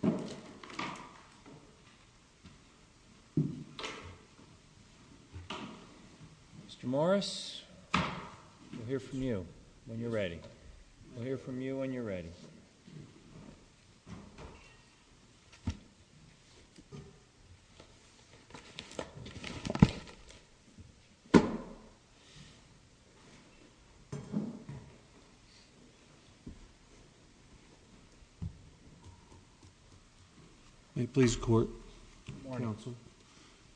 Mr. Morris, we'll hear from you when you're ready. May it please the Court, Counsel.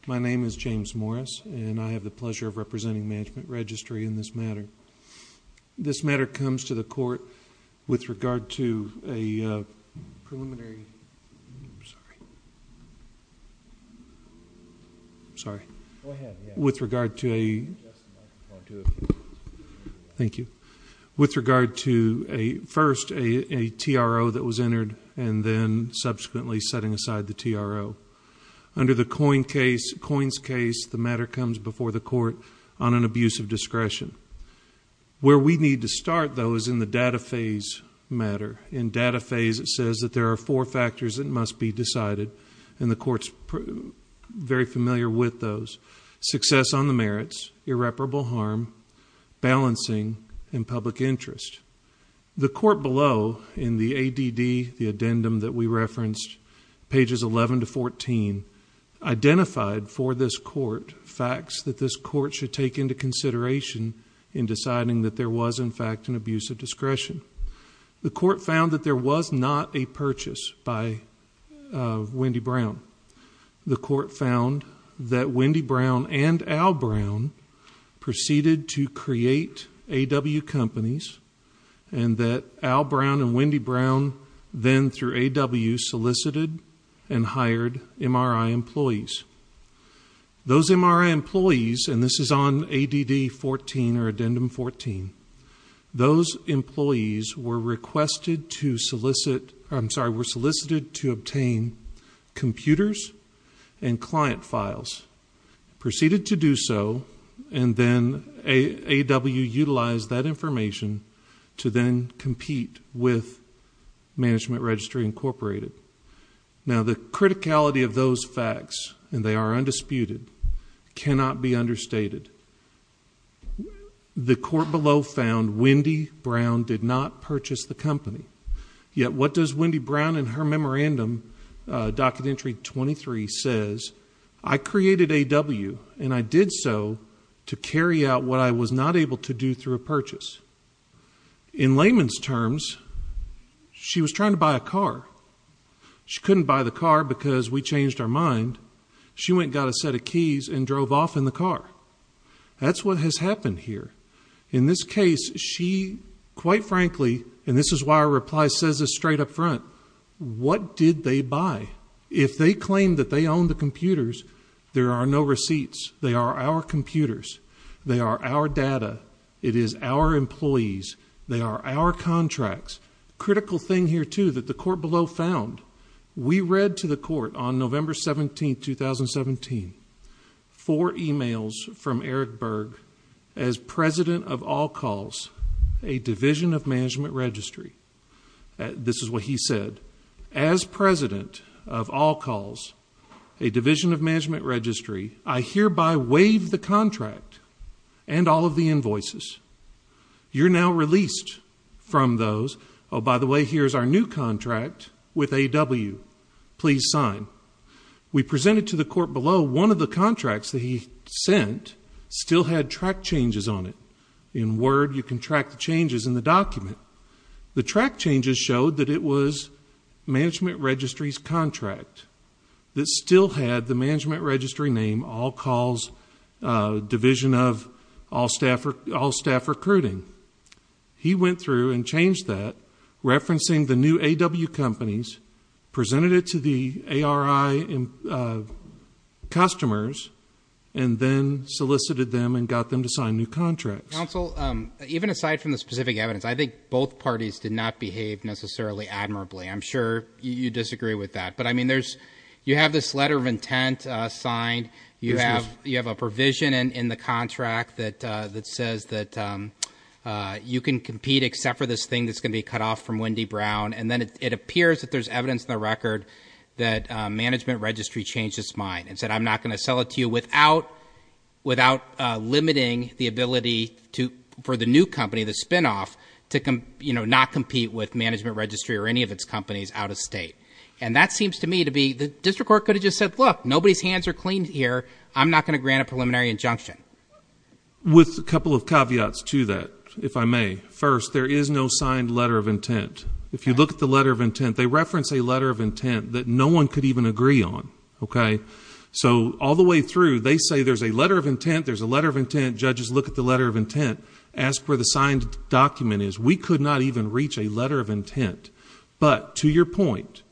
My name is James Morris, and I have the pleasure of representing Management Registry in this matter. This matter comes to the Court with regard to a TRO that was entered and then subsequently setting aside the TRO. Under the Coins case, the matter comes before the Court on an abuse of discretion. Where we need to start, though, is in the data phase matter. In data phase, it says that there are four factors that must be decided, and the Court's very familiar with those. Success on the merits, irreparable harm, balancing, and public interest. The Court below, in the ADD, the addendum that we referenced, pages 11 to 14, identified for this Court facts that this Court should take into consideration in deciding that there was, in fact, an abuse of discretion. The Court found that there was not a purchase by Wendy Brown. The Court found that Wendy Brown and Al Brown proceeded to create A.W. companies, and that Al Brown and Wendy Brown then, through A.W., solicited and hired MRI employees. Those MRI employees, and this is on ADD 14 or Addendum 14, those employees were solicited to solicit, I'm sorry, were solicited to obtain computers and client files. Proceeded to do so, and then A.W. utilized that information to then compete with Management Registry Incorporated. Now the criticality of those facts, and they are undisputed, cannot be understated. The Court below found Wendy Brown did not purchase the company, yet what does Wendy Brown in her memorandum, Documentary 23, says, I created A.W., and I did so to carry out what I was not able to do through a purchase. In layman's terms, she was trying to buy a car. She couldn't buy the car because we changed our mind. She went and got a set of keys and drove off in the car. That's what has happened here. In this case, she, quite frankly, and this is why our reply says this straight up front, what did they buy? If they claim that they own the computers, there are no receipts. They are our computers. They are our data. It is our employees. They are our contracts. Critical thing here, too, that the Court below found. We read to the Court on November 17, 2017, four emails from Eric Berg, as President of All Calls, a Division of Management Registry. This is what he said. As President of All Calls, a Division of Management Registry, I hereby waive the contract and all of the invoices. You're now released from those. Oh, by the way, here's our new contract with AW. Please sign. We presented to the Court below. One of the contracts that he sent still had track changes on it. In Word, you can track the changes in the document. The track changes showed that it was Management Registry's contract that still had the Management Registry name, All Calls, Division of All Staff Recruiting. He went through and changed that, referencing the new AW companies, presented it to the ARI customers, and then solicited them and got them to sign new contracts. Counsel, even aside from the specific evidence, I think both parties did not behave necessarily admirably. I'm sure you disagree with that, but I mean, you have this letter of intent signed. You have a provision in the contract that says that you can compete except for this thing that's going to be cut off from Wendy Brown. And then it appears that there's evidence in the record that Management Registry changed its mind and said I'm not going to sell it to you without limiting the ability for the new company, the spinoff, to not compete with Management Registry or any of its companies out of state. And that seems to me to be, the district court could have just said, look, nobody's hands are clean here. I'm not going to grant a preliminary injunction. With a couple of caveats to that, if I may. First, there is no signed letter of intent. If you look at the letter of intent, they reference a letter of intent that no one could even agree on, okay? So all the way through, they say there's a letter of intent, there's a letter of intent. Judges look at the letter of intent, ask where the signed document is. We could not even reach a letter of intent. But to your point,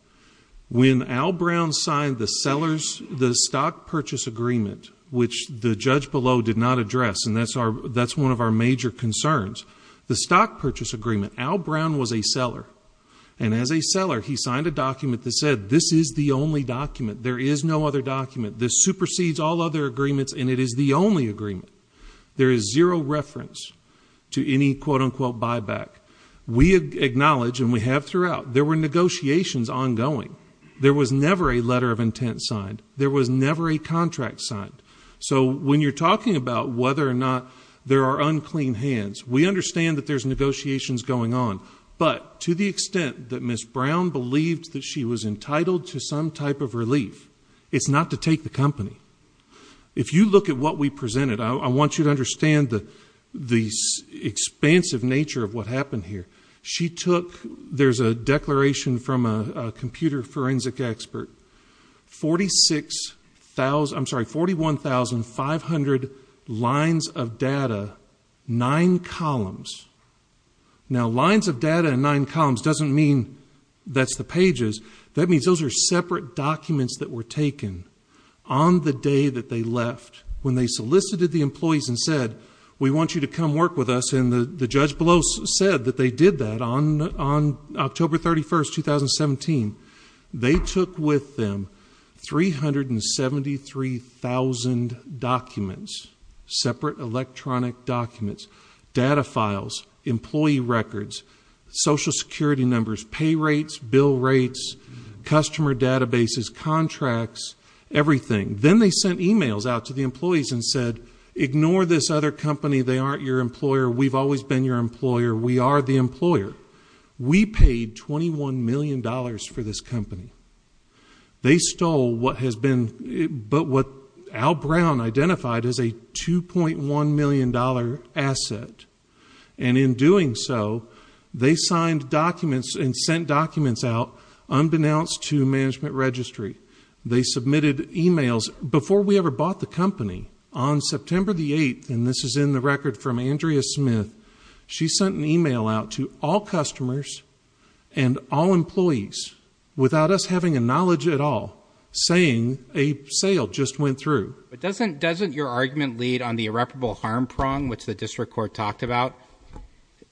when Al Brown signed the stock purchase agreement, which the judge below did not address, and that's one of our major concerns. The stock purchase agreement, Al Brown was a seller. And as a seller, he signed a document that said this is the only document. There is no other document. This supersedes all other agreements and it is the only agreement. There is zero reference to any quote unquote buyback. We acknowledge, and we have throughout, there were negotiations ongoing. There was never a letter of intent signed. There was never a contract signed. So when you're talking about whether or not there are unclean hands, we understand that there's negotiations going on. But to the extent that Ms. Brown believed that she was entitled to some type of relief, it's not to take the company. If you look at what we presented, I want you to understand the expansive nature of what happened here. She took, there's a declaration from a computer forensic expert. 41,500 lines of data, nine columns. Now lines of data and nine columns doesn't mean that's the pages. That means those are separate documents that were taken on the day that they left, when they solicited the employees and said, we want you to come work with us. And the judge below said that they did that on October 31st, 2017. They took with them 373,000 documents, separate electronic documents, data files, employee records, social security numbers, pay rates, bill rates, customer databases, contracts, everything. Then they sent emails out to the employees and said, ignore this other company. They aren't your employer. We've always been your employer. We are the employer. We paid $21 million for this company. They stole what has been, but what Al Brown identified as a $2.1 million asset. And in doing so, they signed documents and sent documents out unbeknownst to management registry. They submitted emails before we ever bought the company on September the 8th. And this is in the record from Andrea Smith. She sent an email out to all customers and all employees without us having a knowledge at all, saying a sale just went through. But doesn't your argument lead on the irreparable harm prong, which the district court talked about?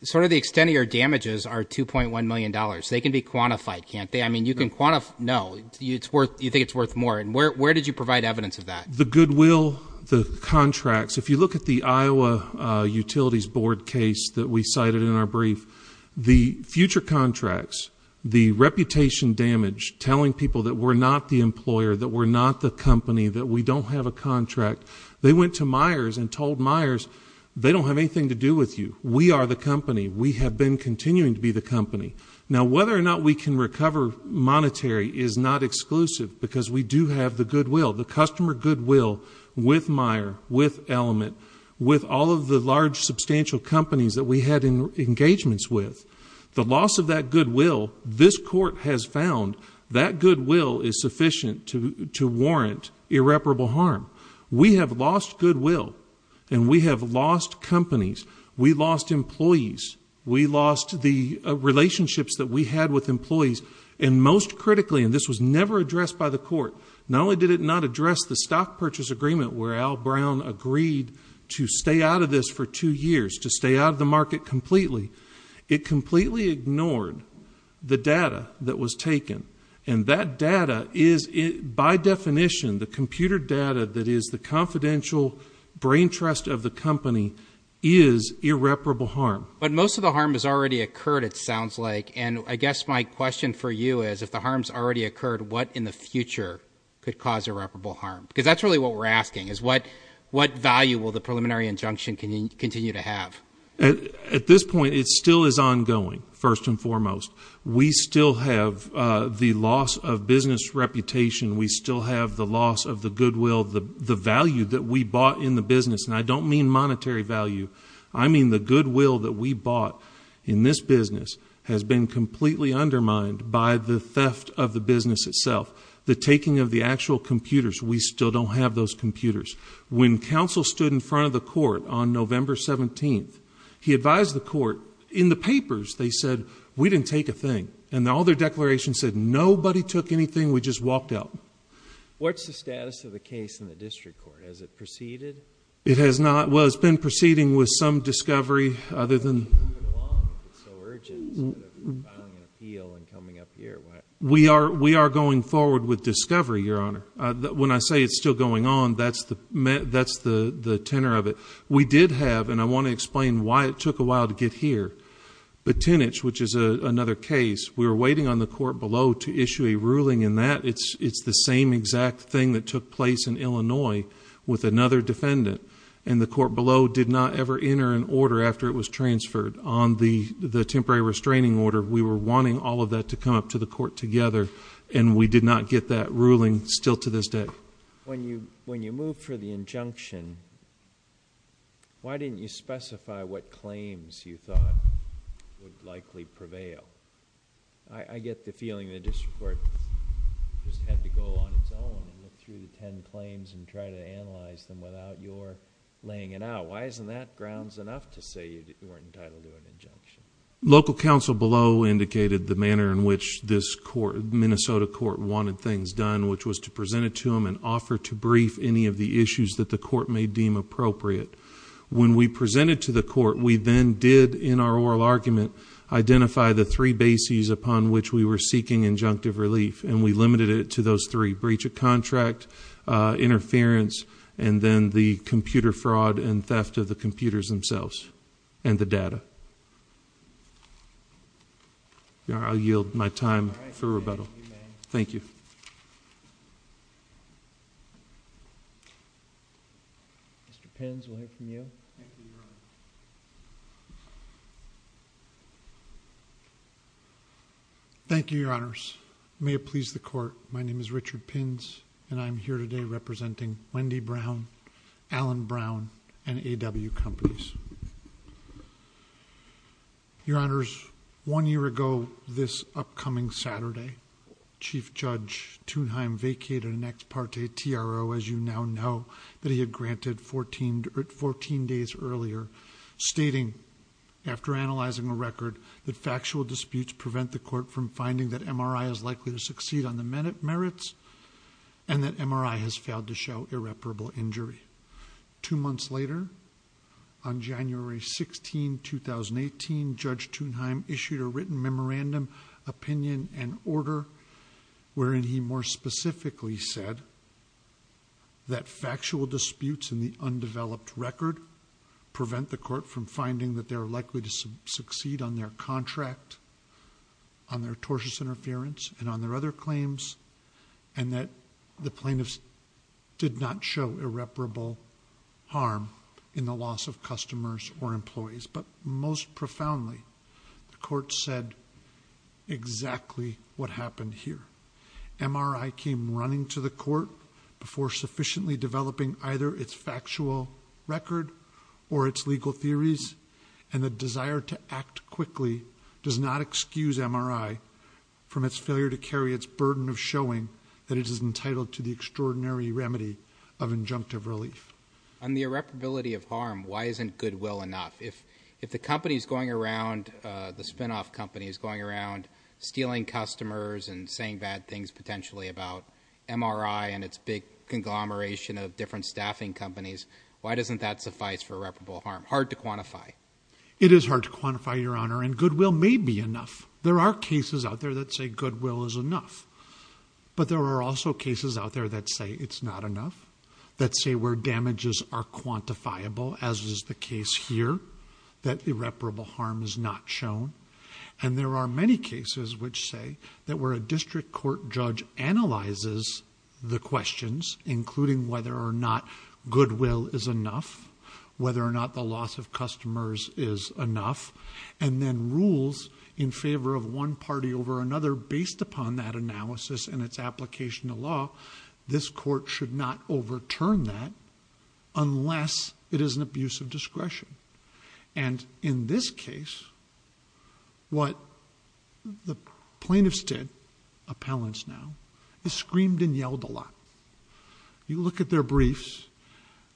Sort of the extent of your damages are $2.1 million. They can be quantified, can't they? I mean, you can quantify, no, you think it's worth more. And where did you provide evidence of that? The goodwill, the contracts, if you look at the Iowa Utilities Board case that we cited in our brief. The future contracts, the reputation damage, telling people that we're not the employer, that we're not the company, that we don't have a contract. They went to Myers and told Myers, they don't have anything to do with you. We are the company. We have been continuing to be the company. Now whether or not we can recover monetary is not exclusive because we do have the goodwill. The customer goodwill with Meyer, with Element, with all of the large substantial companies that we had engagements with. The loss of that goodwill, this court has found that goodwill is sufficient to warrant irreparable harm. We have lost goodwill, and we have lost companies. We lost employees. We lost the relationships that we had with employees. And most critically, and this was never addressed by the court, not only did it not address the stock purchase agreement where Al Brown agreed to stay out of this for two years, to stay out of the market completely. It completely ignored the data that was taken. And that data is, by definition, the computer data that is the confidential brain trust of the company is irreparable harm. But most of the harm has already occurred, it sounds like. And I guess my question for you is, if the harm's already occurred, what in the future could cause irreparable harm? Because that's really what we're asking, is what value will the preliminary injunction continue to have? At this point, it still is ongoing, first and foremost. We still have the loss of business reputation. We still have the loss of the goodwill, the value that we bought in the business. And I don't mean monetary value. I mean the goodwill that we bought in this business has been completely undermined by the theft of the business itself. The taking of the actual computers, we still don't have those computers. When counsel stood in front of the court on November 17th, he advised the court. In the papers, they said, we didn't take a thing. And all their declarations said, nobody took anything, we just walked out. What's the status of the case in the district court? Has it proceeded? It has not. Well, it's been proceeding with some discovery, other than- It's been so long, it's so urgent, instead of filing an appeal and coming up here. We are going forward with discovery, Your Honor. When I say it's still going on, that's the tenor of it. We did have, and I want to explain why it took a while to get here, the tinnage, which is another case. We were waiting on the court below to issue a ruling in that. It's the same exact thing that took place in Illinois with another defendant. And the court below did not ever enter an order after it was transferred on the temporary restraining order. We were wanting all of that to come up to the court together, and we did not get that ruling still to this day. When you moved for the injunction, why didn't you specify what claims you thought would likely prevail? I get the feeling the district court just had to go on its own and look through the ten claims and try to analyze them without your laying it out. Why isn't that grounds enough to say you weren't entitled to an injunction? Local counsel below indicated the manner in which this Minnesota court wanted things done, which was to present it to them and offer to brief any of the issues that the court may deem appropriate. When we presented to the court, we then did, in our oral argument, identify the three bases upon which we were seeking injunctive relief. And we limited it to those three, breach of contract, interference, and then the computer fraud and theft of the computers themselves and the data. Your Honor, I yield my time for rebuttal. Thank you. Mr. Pins, we'll hear from you. Thank you, Your Honor. Thank you, Your Honors. May it please the court, my name is Richard Pins, and I'm here today representing Wendy Brown, Allen Brown, and A.W. Companies. Your Honors, one year ago this upcoming Saturday, Chief Judge Thunheim vacated an ex parte TRO, as you now know, that he had granted 14 days earlier, stating, after analyzing a record, that factual disputes prevent the court from finding that MRI is likely to succeed on the merits. And that MRI has failed to show irreparable injury. Two months later, on January 16, 2018, Judge Thunheim issued a written memorandum, opinion, and order. Wherein he more specifically said that factual disputes in the undeveloped record prevent the court from finding that they're likely to succeed on their contract, on their tortious interference, and on their other claims. And that the plaintiffs did not show irreparable harm in the loss of customers or employees. But most profoundly, the court said exactly what happened here. MRI came running to the court before sufficiently developing either its factual record or its legal theories, and the desire to act quickly does not excuse MRI from its failure to carry its burden of showing that it is entitled to the extraordinary remedy of injunctive relief. On the irreparability of harm, why isn't goodwill enough? If the company's going around, the spin off company is going around, stealing customers and saying bad things potentially about MRI and its big conglomeration of different staffing companies, why doesn't that suffice for irreparable harm? Hard to quantify. It is hard to quantify, your honor, and goodwill may be enough. There are cases out there that say goodwill is enough, but there are also cases out there that say it's not enough. That say where damages are quantifiable, as is the case here, that irreparable harm is not shown. And there are many cases which say that where a district court judge analyzes the questions, including whether or not goodwill is enough, whether or not the loss of customers is enough. And then rules in favor of one party over another based upon that analysis and its application to law, this court should not overturn that unless it is an abuse of discretion. And in this case, what the plaintiffs did, appellants now, is screamed and yelled a lot. You look at their briefs,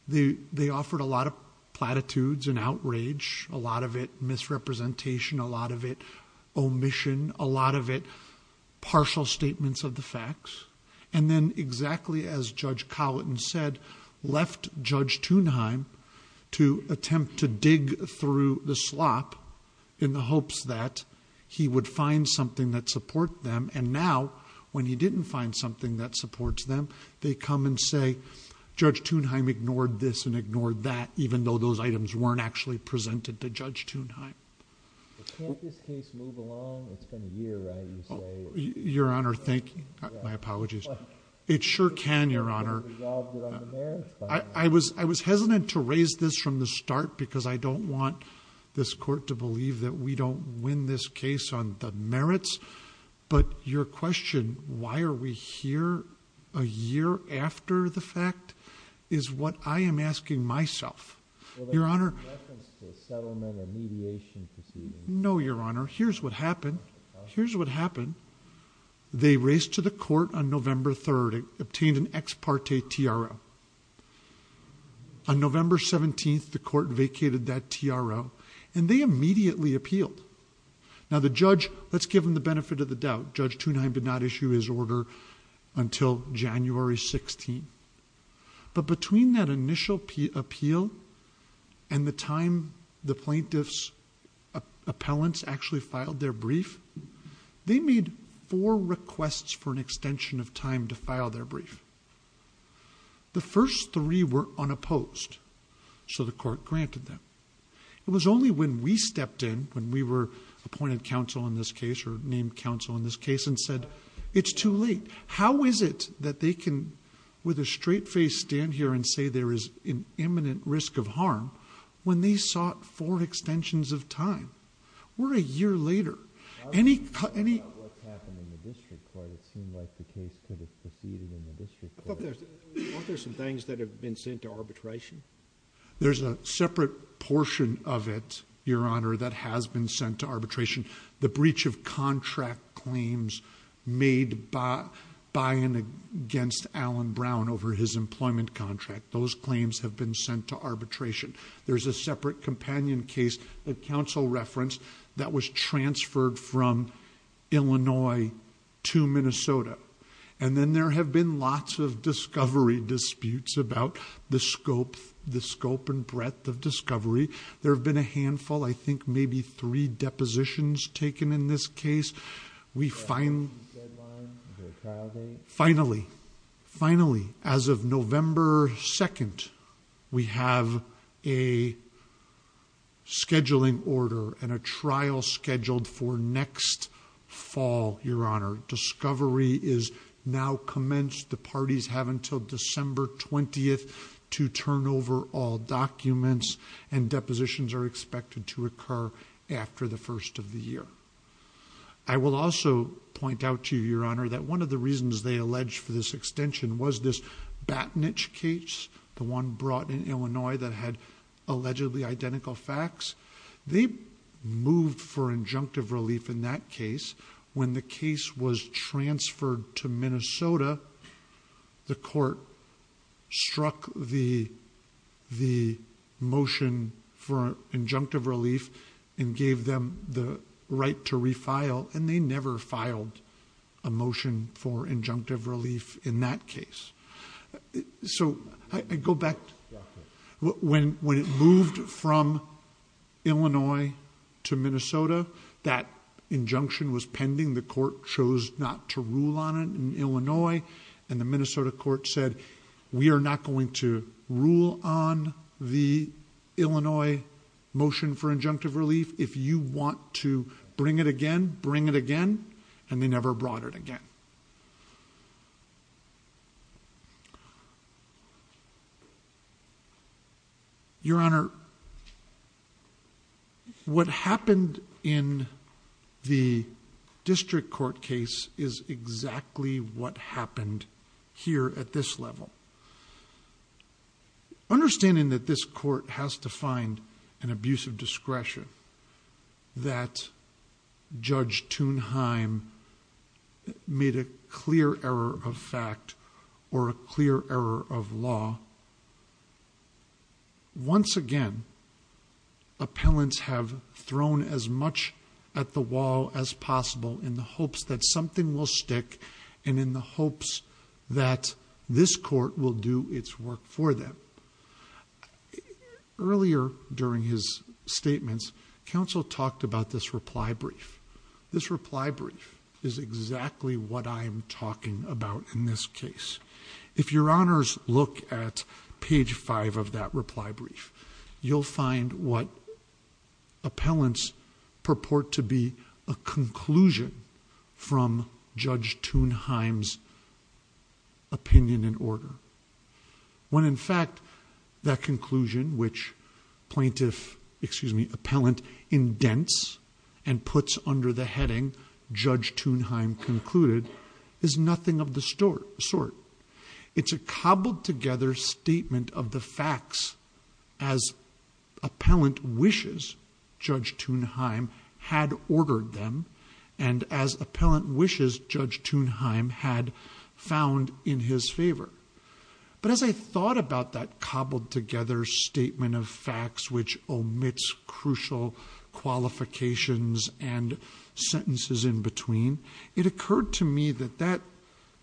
they offered a lot of platitudes and outrage. A lot of it misrepresentation, a lot of it omission, a lot of it partial statements of the facts. And then exactly as Judge Collin said, left Judge Thunheim to attempt to dig through the slop. In the hopes that he would find something that support them. And now, when he didn't find something that supports them, they come and say, Judge Thunheim ignored this and ignored that, even though those items weren't actually presented to Judge Thunheim. Can't this case move along? It's been a year, right? Your Honor, thank you. My apologies. It sure can, Your Honor. I was hesitant to raise this from the start because I don't want this court to believe that we don't win this case on the merits. But your question, why are we here a year after the fact, is what I am asking myself. Your Honor, no, Your Honor, here's what happened. Here's what happened. They raced to the court on November 3rd, obtained an ex parte TRO. On November 17th, the court vacated that TRO, and they immediately appealed. Now the judge, let's give him the benefit of the doubt, Judge Thunheim did not issue his order until January 16th. But between that initial appeal and the time the plaintiff's appellants actually filed their brief, they made four requests for an extension of time to file their brief. The first three were unopposed, so the court granted them. It was only when we stepped in, when we were appointed counsel in this case or named counsel in this case, and said, it's too late. How is it that they can, with a straight face, stand here and say there is an imminent risk of harm, when they sought four extensions of time? We're a year later. Any- I wasn't talking about what's happened in the district court. It seemed like the case could have proceeded in the district court. Aren't there some things that have been sent to arbitration? There's a separate portion of it, your honor, that has been sent to arbitration. The breach of contract claims made by and against Alan Brown over his employment contract, those claims have been sent to arbitration. There's a separate companion case that counsel referenced that was transferred from Illinois to Minnesota. And then there have been lots of discovery disputes about the scope and breadth of discovery. There have been a handful, I think maybe three depositions taken in this case. We finally- Is there a deadline? Is there a trial date? Finally, finally, as of November 2nd, we have a scheduling order and a trial scheduled for next fall, your honor. Discovery is now commenced. The parties have until December 20th to turn over all documents and depositions are expected to occur after the first of the year. I will also point out to you, your honor, that one of the reasons they alleged for this extension was this Battenich case, the one brought in Illinois that had allegedly identical facts. They moved for injunctive relief in that case. When the case was transferred to Minnesota, the court struck the motion for injunctive relief and gave them the right to refile and they never filed a motion for injunctive relief in that case. So, I go back, when it moved from Illinois to Minnesota, that injunction was pending, the court chose not to rule on it in Illinois. And the Minnesota court said, we are not going to rule on the Illinois motion for injunctive relief if you want to bring it again, bring it again, and they never brought it again. Your Honor, what happened in the district court case is exactly what happened here at this level. Understanding that this court has to find an abuse of discretion, that Judge Thunheim made a clear error of fact, or a clear error of law, once again, appellants have thrown as much at the wall as possible in the hopes that something will stick. And in the hopes that this court will do its work for them. Earlier during his statements, counsel talked about this reply brief. This reply brief is exactly what I'm talking about in this case. If your honors look at page five of that reply brief, you'll find what appellants purport to be a conclusion from Judge Thunheim's opinion and order. When in fact, that conclusion which plaintiff, excuse me, appellant indents and puts under the heading, Judge Thunheim concluded, is nothing of the sort. It's a cobbled together statement of the facts as appellant wishes, Judge Thunheim had ordered them, and as appellant wishes, Judge Thunheim had found in his favor. But as I thought about that cobbled together statement of facts which omits crucial qualifications and sentences in between, it occurred to me that that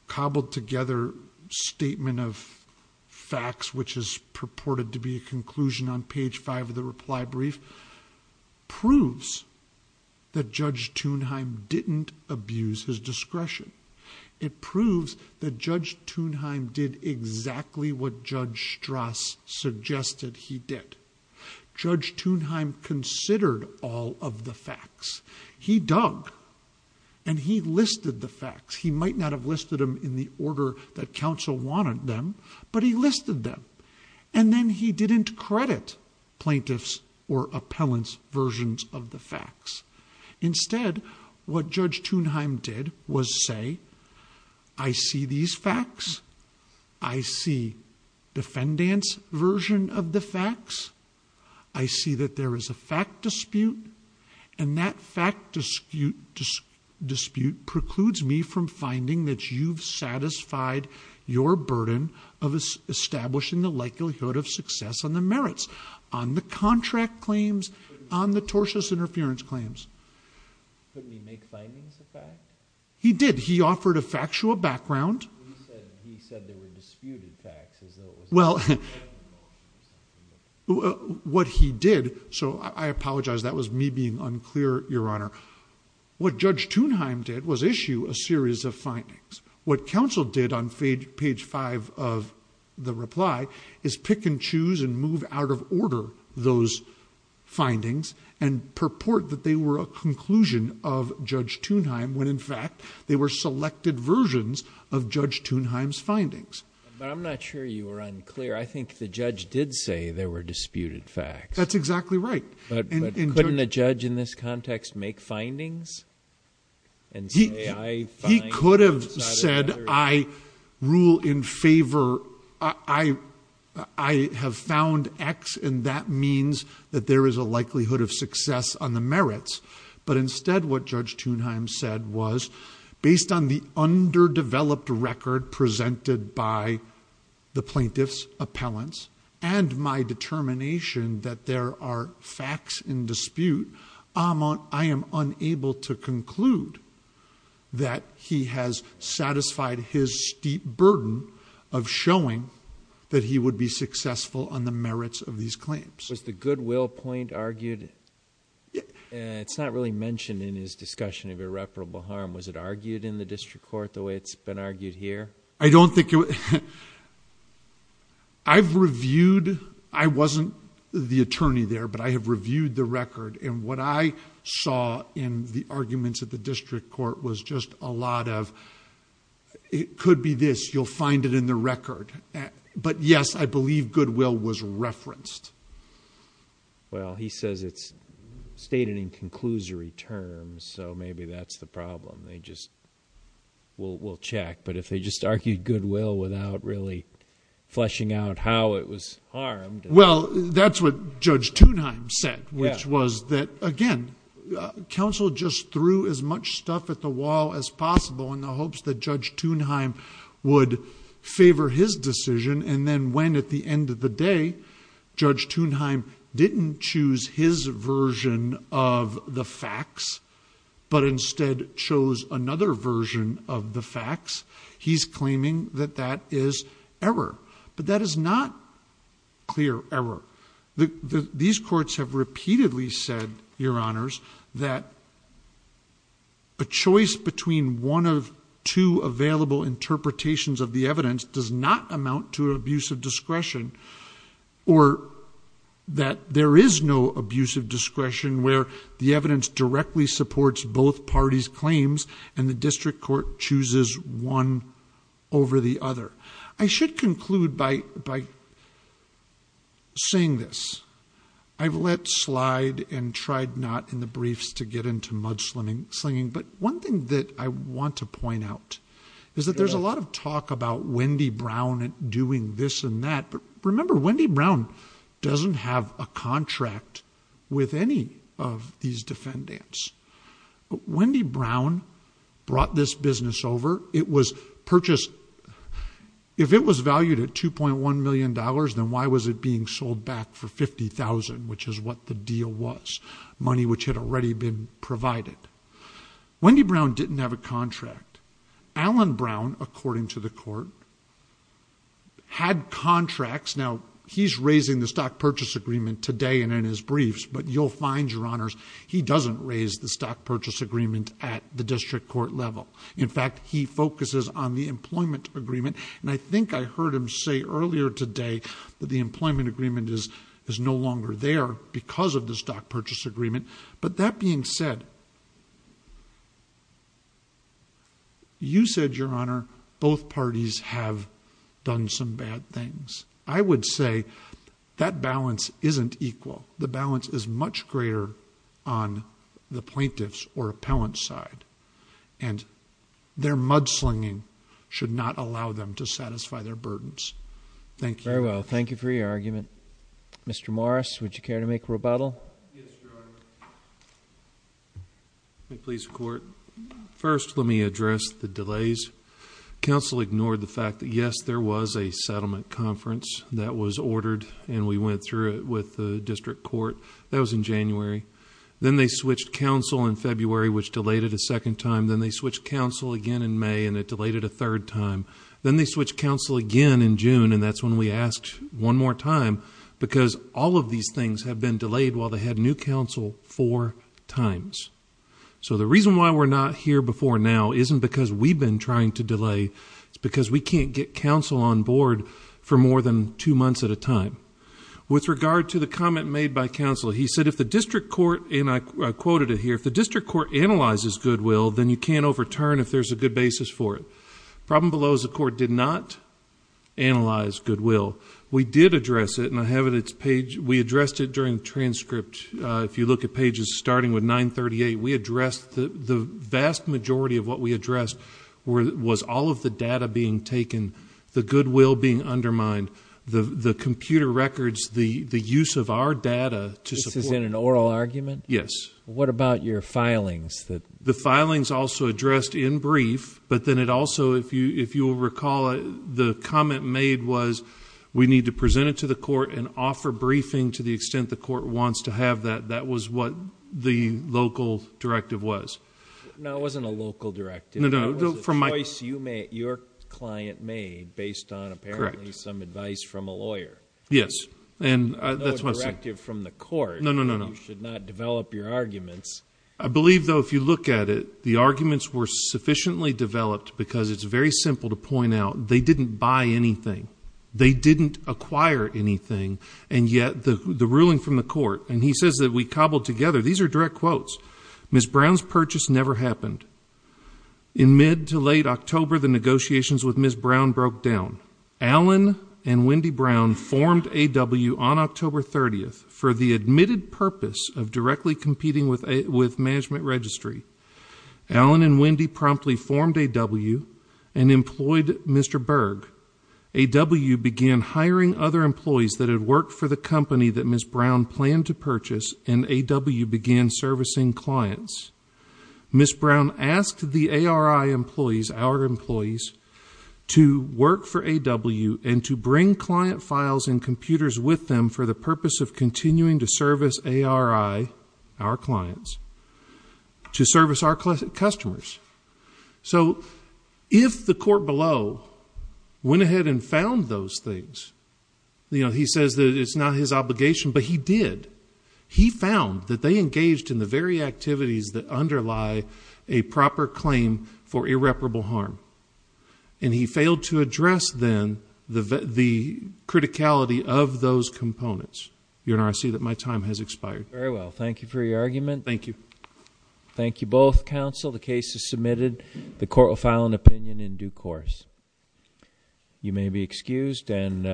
cobbled together statement of facts, which is purported to be a conclusion on page five of the reply brief, proves that Judge Thunheim didn't abuse his discretion. It proves that Judge Thunheim did exactly what Judge Strass suggested he did. Judge Thunheim considered all of the facts. He dug and he listed the facts. He might not have listed them in the order that counsel wanted them, but he listed them. And then he didn't credit plaintiffs or appellants versions of the facts. Instead, what Judge Thunheim did was say, I see these facts. I see defendant's version of the facts. I see that there is a fact dispute. And that fact dispute precludes me from finding that you've satisfied your burden on the contract claims, on the tortious interference claims. Couldn't he make findings of facts? He did. He offered a factual background. He said there were disputed facts. Well, what he did, so I apologize. That was me being unclear, Your Honor. What Judge Thunheim did was issue a series of findings. What counsel did on page five of the reply is pick and choose and move out of order those findings and purport that they were a conclusion of Judge Thunheim when, in fact, they were selected versions of Judge Thunheim's findings. But I'm not sure you were unclear. I think the judge did say there were disputed facts. That's exactly right. But couldn't a judge in this context make findings? And he could have said, I rule in favor, I have found X. And that means that there is a likelihood of success on the merits. But instead, what Judge Thunheim said was, based on the underdeveloped record presented by the plaintiff's appellants and my determination that there are facts in dispute, I am unable to conclude that he has satisfied his steep burden of showing that he would be successful on the merits of these claims. Was the goodwill point argued? It's not really mentioned in his discussion of irreparable harm. Was it argued in the district court the way it's been argued here? I don't think it was. I've reviewed, I wasn't the attorney there, but I have reviewed the record. And what I saw in the arguments at the district court was just a lot of, it could be this, you'll find it in the record. But yes, I believe goodwill was referenced. Well, he says it's stated in conclusory terms. So maybe that's the problem. They just, we'll check. But if they just argued goodwill without really fleshing out how it was harmed. Well, that's what Judge Thunheim said, which was that again, counsel just threw as much stuff at the wall as possible in the hopes that Judge Thunheim would favor his decision. And then when at the end of the day, Judge Thunheim didn't choose his version of the facts, but instead chose another version of the facts, he's claiming that that is error. But that is not clear error. These courts have repeatedly said, your honors, that a choice between one of two available interpretations of the evidence does not amount to an abuse of discretion, or that there is no abuse of discretion where the evidence directly supports both parties' claims and the district court chooses one over the other. I should conclude by saying this. I've let slide and tried not in the briefs to get into mudslinging. But one thing that I want to point out is that there's a lot of talk about Wendy Brown doing this and that. But remember, Wendy Brown doesn't have a contract with any of these defendants. But Wendy Brown brought this business over. It was purchased. If it was valued at $2.1 million, then why was it being sold back for $50,000, which is what the deal was, money which had already been provided? Wendy Brown didn't have a contract. Alan Brown, according to the court, had contracts. Now, he's raising the stock purchase agreement today and in his briefs. But you'll find, your honors, he doesn't raise the stock purchase agreement at the district court level. In fact, he focuses on the employment agreement. And I think I heard him say earlier today that the employment agreement is no longer there because of the stock purchase agreement. But that being said, you said, your honor, both parties have done some bad things. I would say that balance isn't equal. The balance is much greater on the plaintiff's or appellant's side. And their mudslinging should not allow them to satisfy their burdens. Thank you. Very well. Thank you for your argument. Mr. Morris, would you care to make rebuttal? Yes, your honor. May it please the court? First, let me address the delays. Counsel ignored the fact that, yes, there was a settlement conference that was ordered and we went through it with the district court. That was in January. Then they switched counsel in February, which delayed it a second time. Then they switched counsel again in May, and it delayed it a third time. Then they switched counsel again in June. And that's when we asked one more time because all of these things have been delayed while they had new counsel four times. So the reason why we're not here before now isn't because we've been trying to delay. It's because we can't get counsel on board for more than two months at a time. With regard to the comment made by counsel, he said, if the district court, and I quoted it here, if the district court analyzes goodwill, then you can't overturn if there's a good basis for it. Problem below is the court did not analyze goodwill. We did address it, and I have it on its page. We addressed it during transcript. If you look at pages starting with 938, we addressed the vast majority of what we addressed was all of the data being taken, the goodwill being undermined, the computer records, the use of our data to support... This is in an oral argument? Yes. What about your filings? The filings also addressed in brief. But then it also, if you'll recall, the comment made was we need to present it to the court and offer briefing to the extent the court wants to have that. That was what the local directive was. No, it wasn't a local directive. It was a choice your client made based on apparently some advice from a lawyer. Yes. And that's what I'm saying... No directive from the court. No, no, no, no. You should not develop your arguments. I believe, though, if you look at it, the arguments were sufficiently developed because it's very simple to point out they didn't buy anything. They didn't acquire anything. And yet the ruling from the court, and he says that we cobbled together. These are direct quotes. Ms. Brown's purchase never happened. In mid to late October, the negotiations with Ms. Brown broke down. Allen and Wendy Brown formed A.W. on October 30th for the admitted purpose of directly competing with Management Registry. Allen and Wendy promptly formed A.W. and employed Mr. Berg. A.W. began hiring other employees that had worked for the company that Ms. Brown planned to purchase, and A.W. began servicing clients. Ms. Brown asked the A.R.I. employees, our employees, to work for A.W. and to bring client files and computers with them for the purpose of continuing to service A.R.I., our clients, to service our customers. So if the court below went ahead and found those things, you know, he says that it's not his obligation, but he did. He found that they engaged in the very activities that underlie a proper claim for irreparable harm, and he failed to address, then, the criticality of those components. Your Honor, I see that my time has expired. Very well. Thank you for your argument. Thank you. Thank you both, counsel. The case is submitted. The court will file an opinion in due course. You may be excused and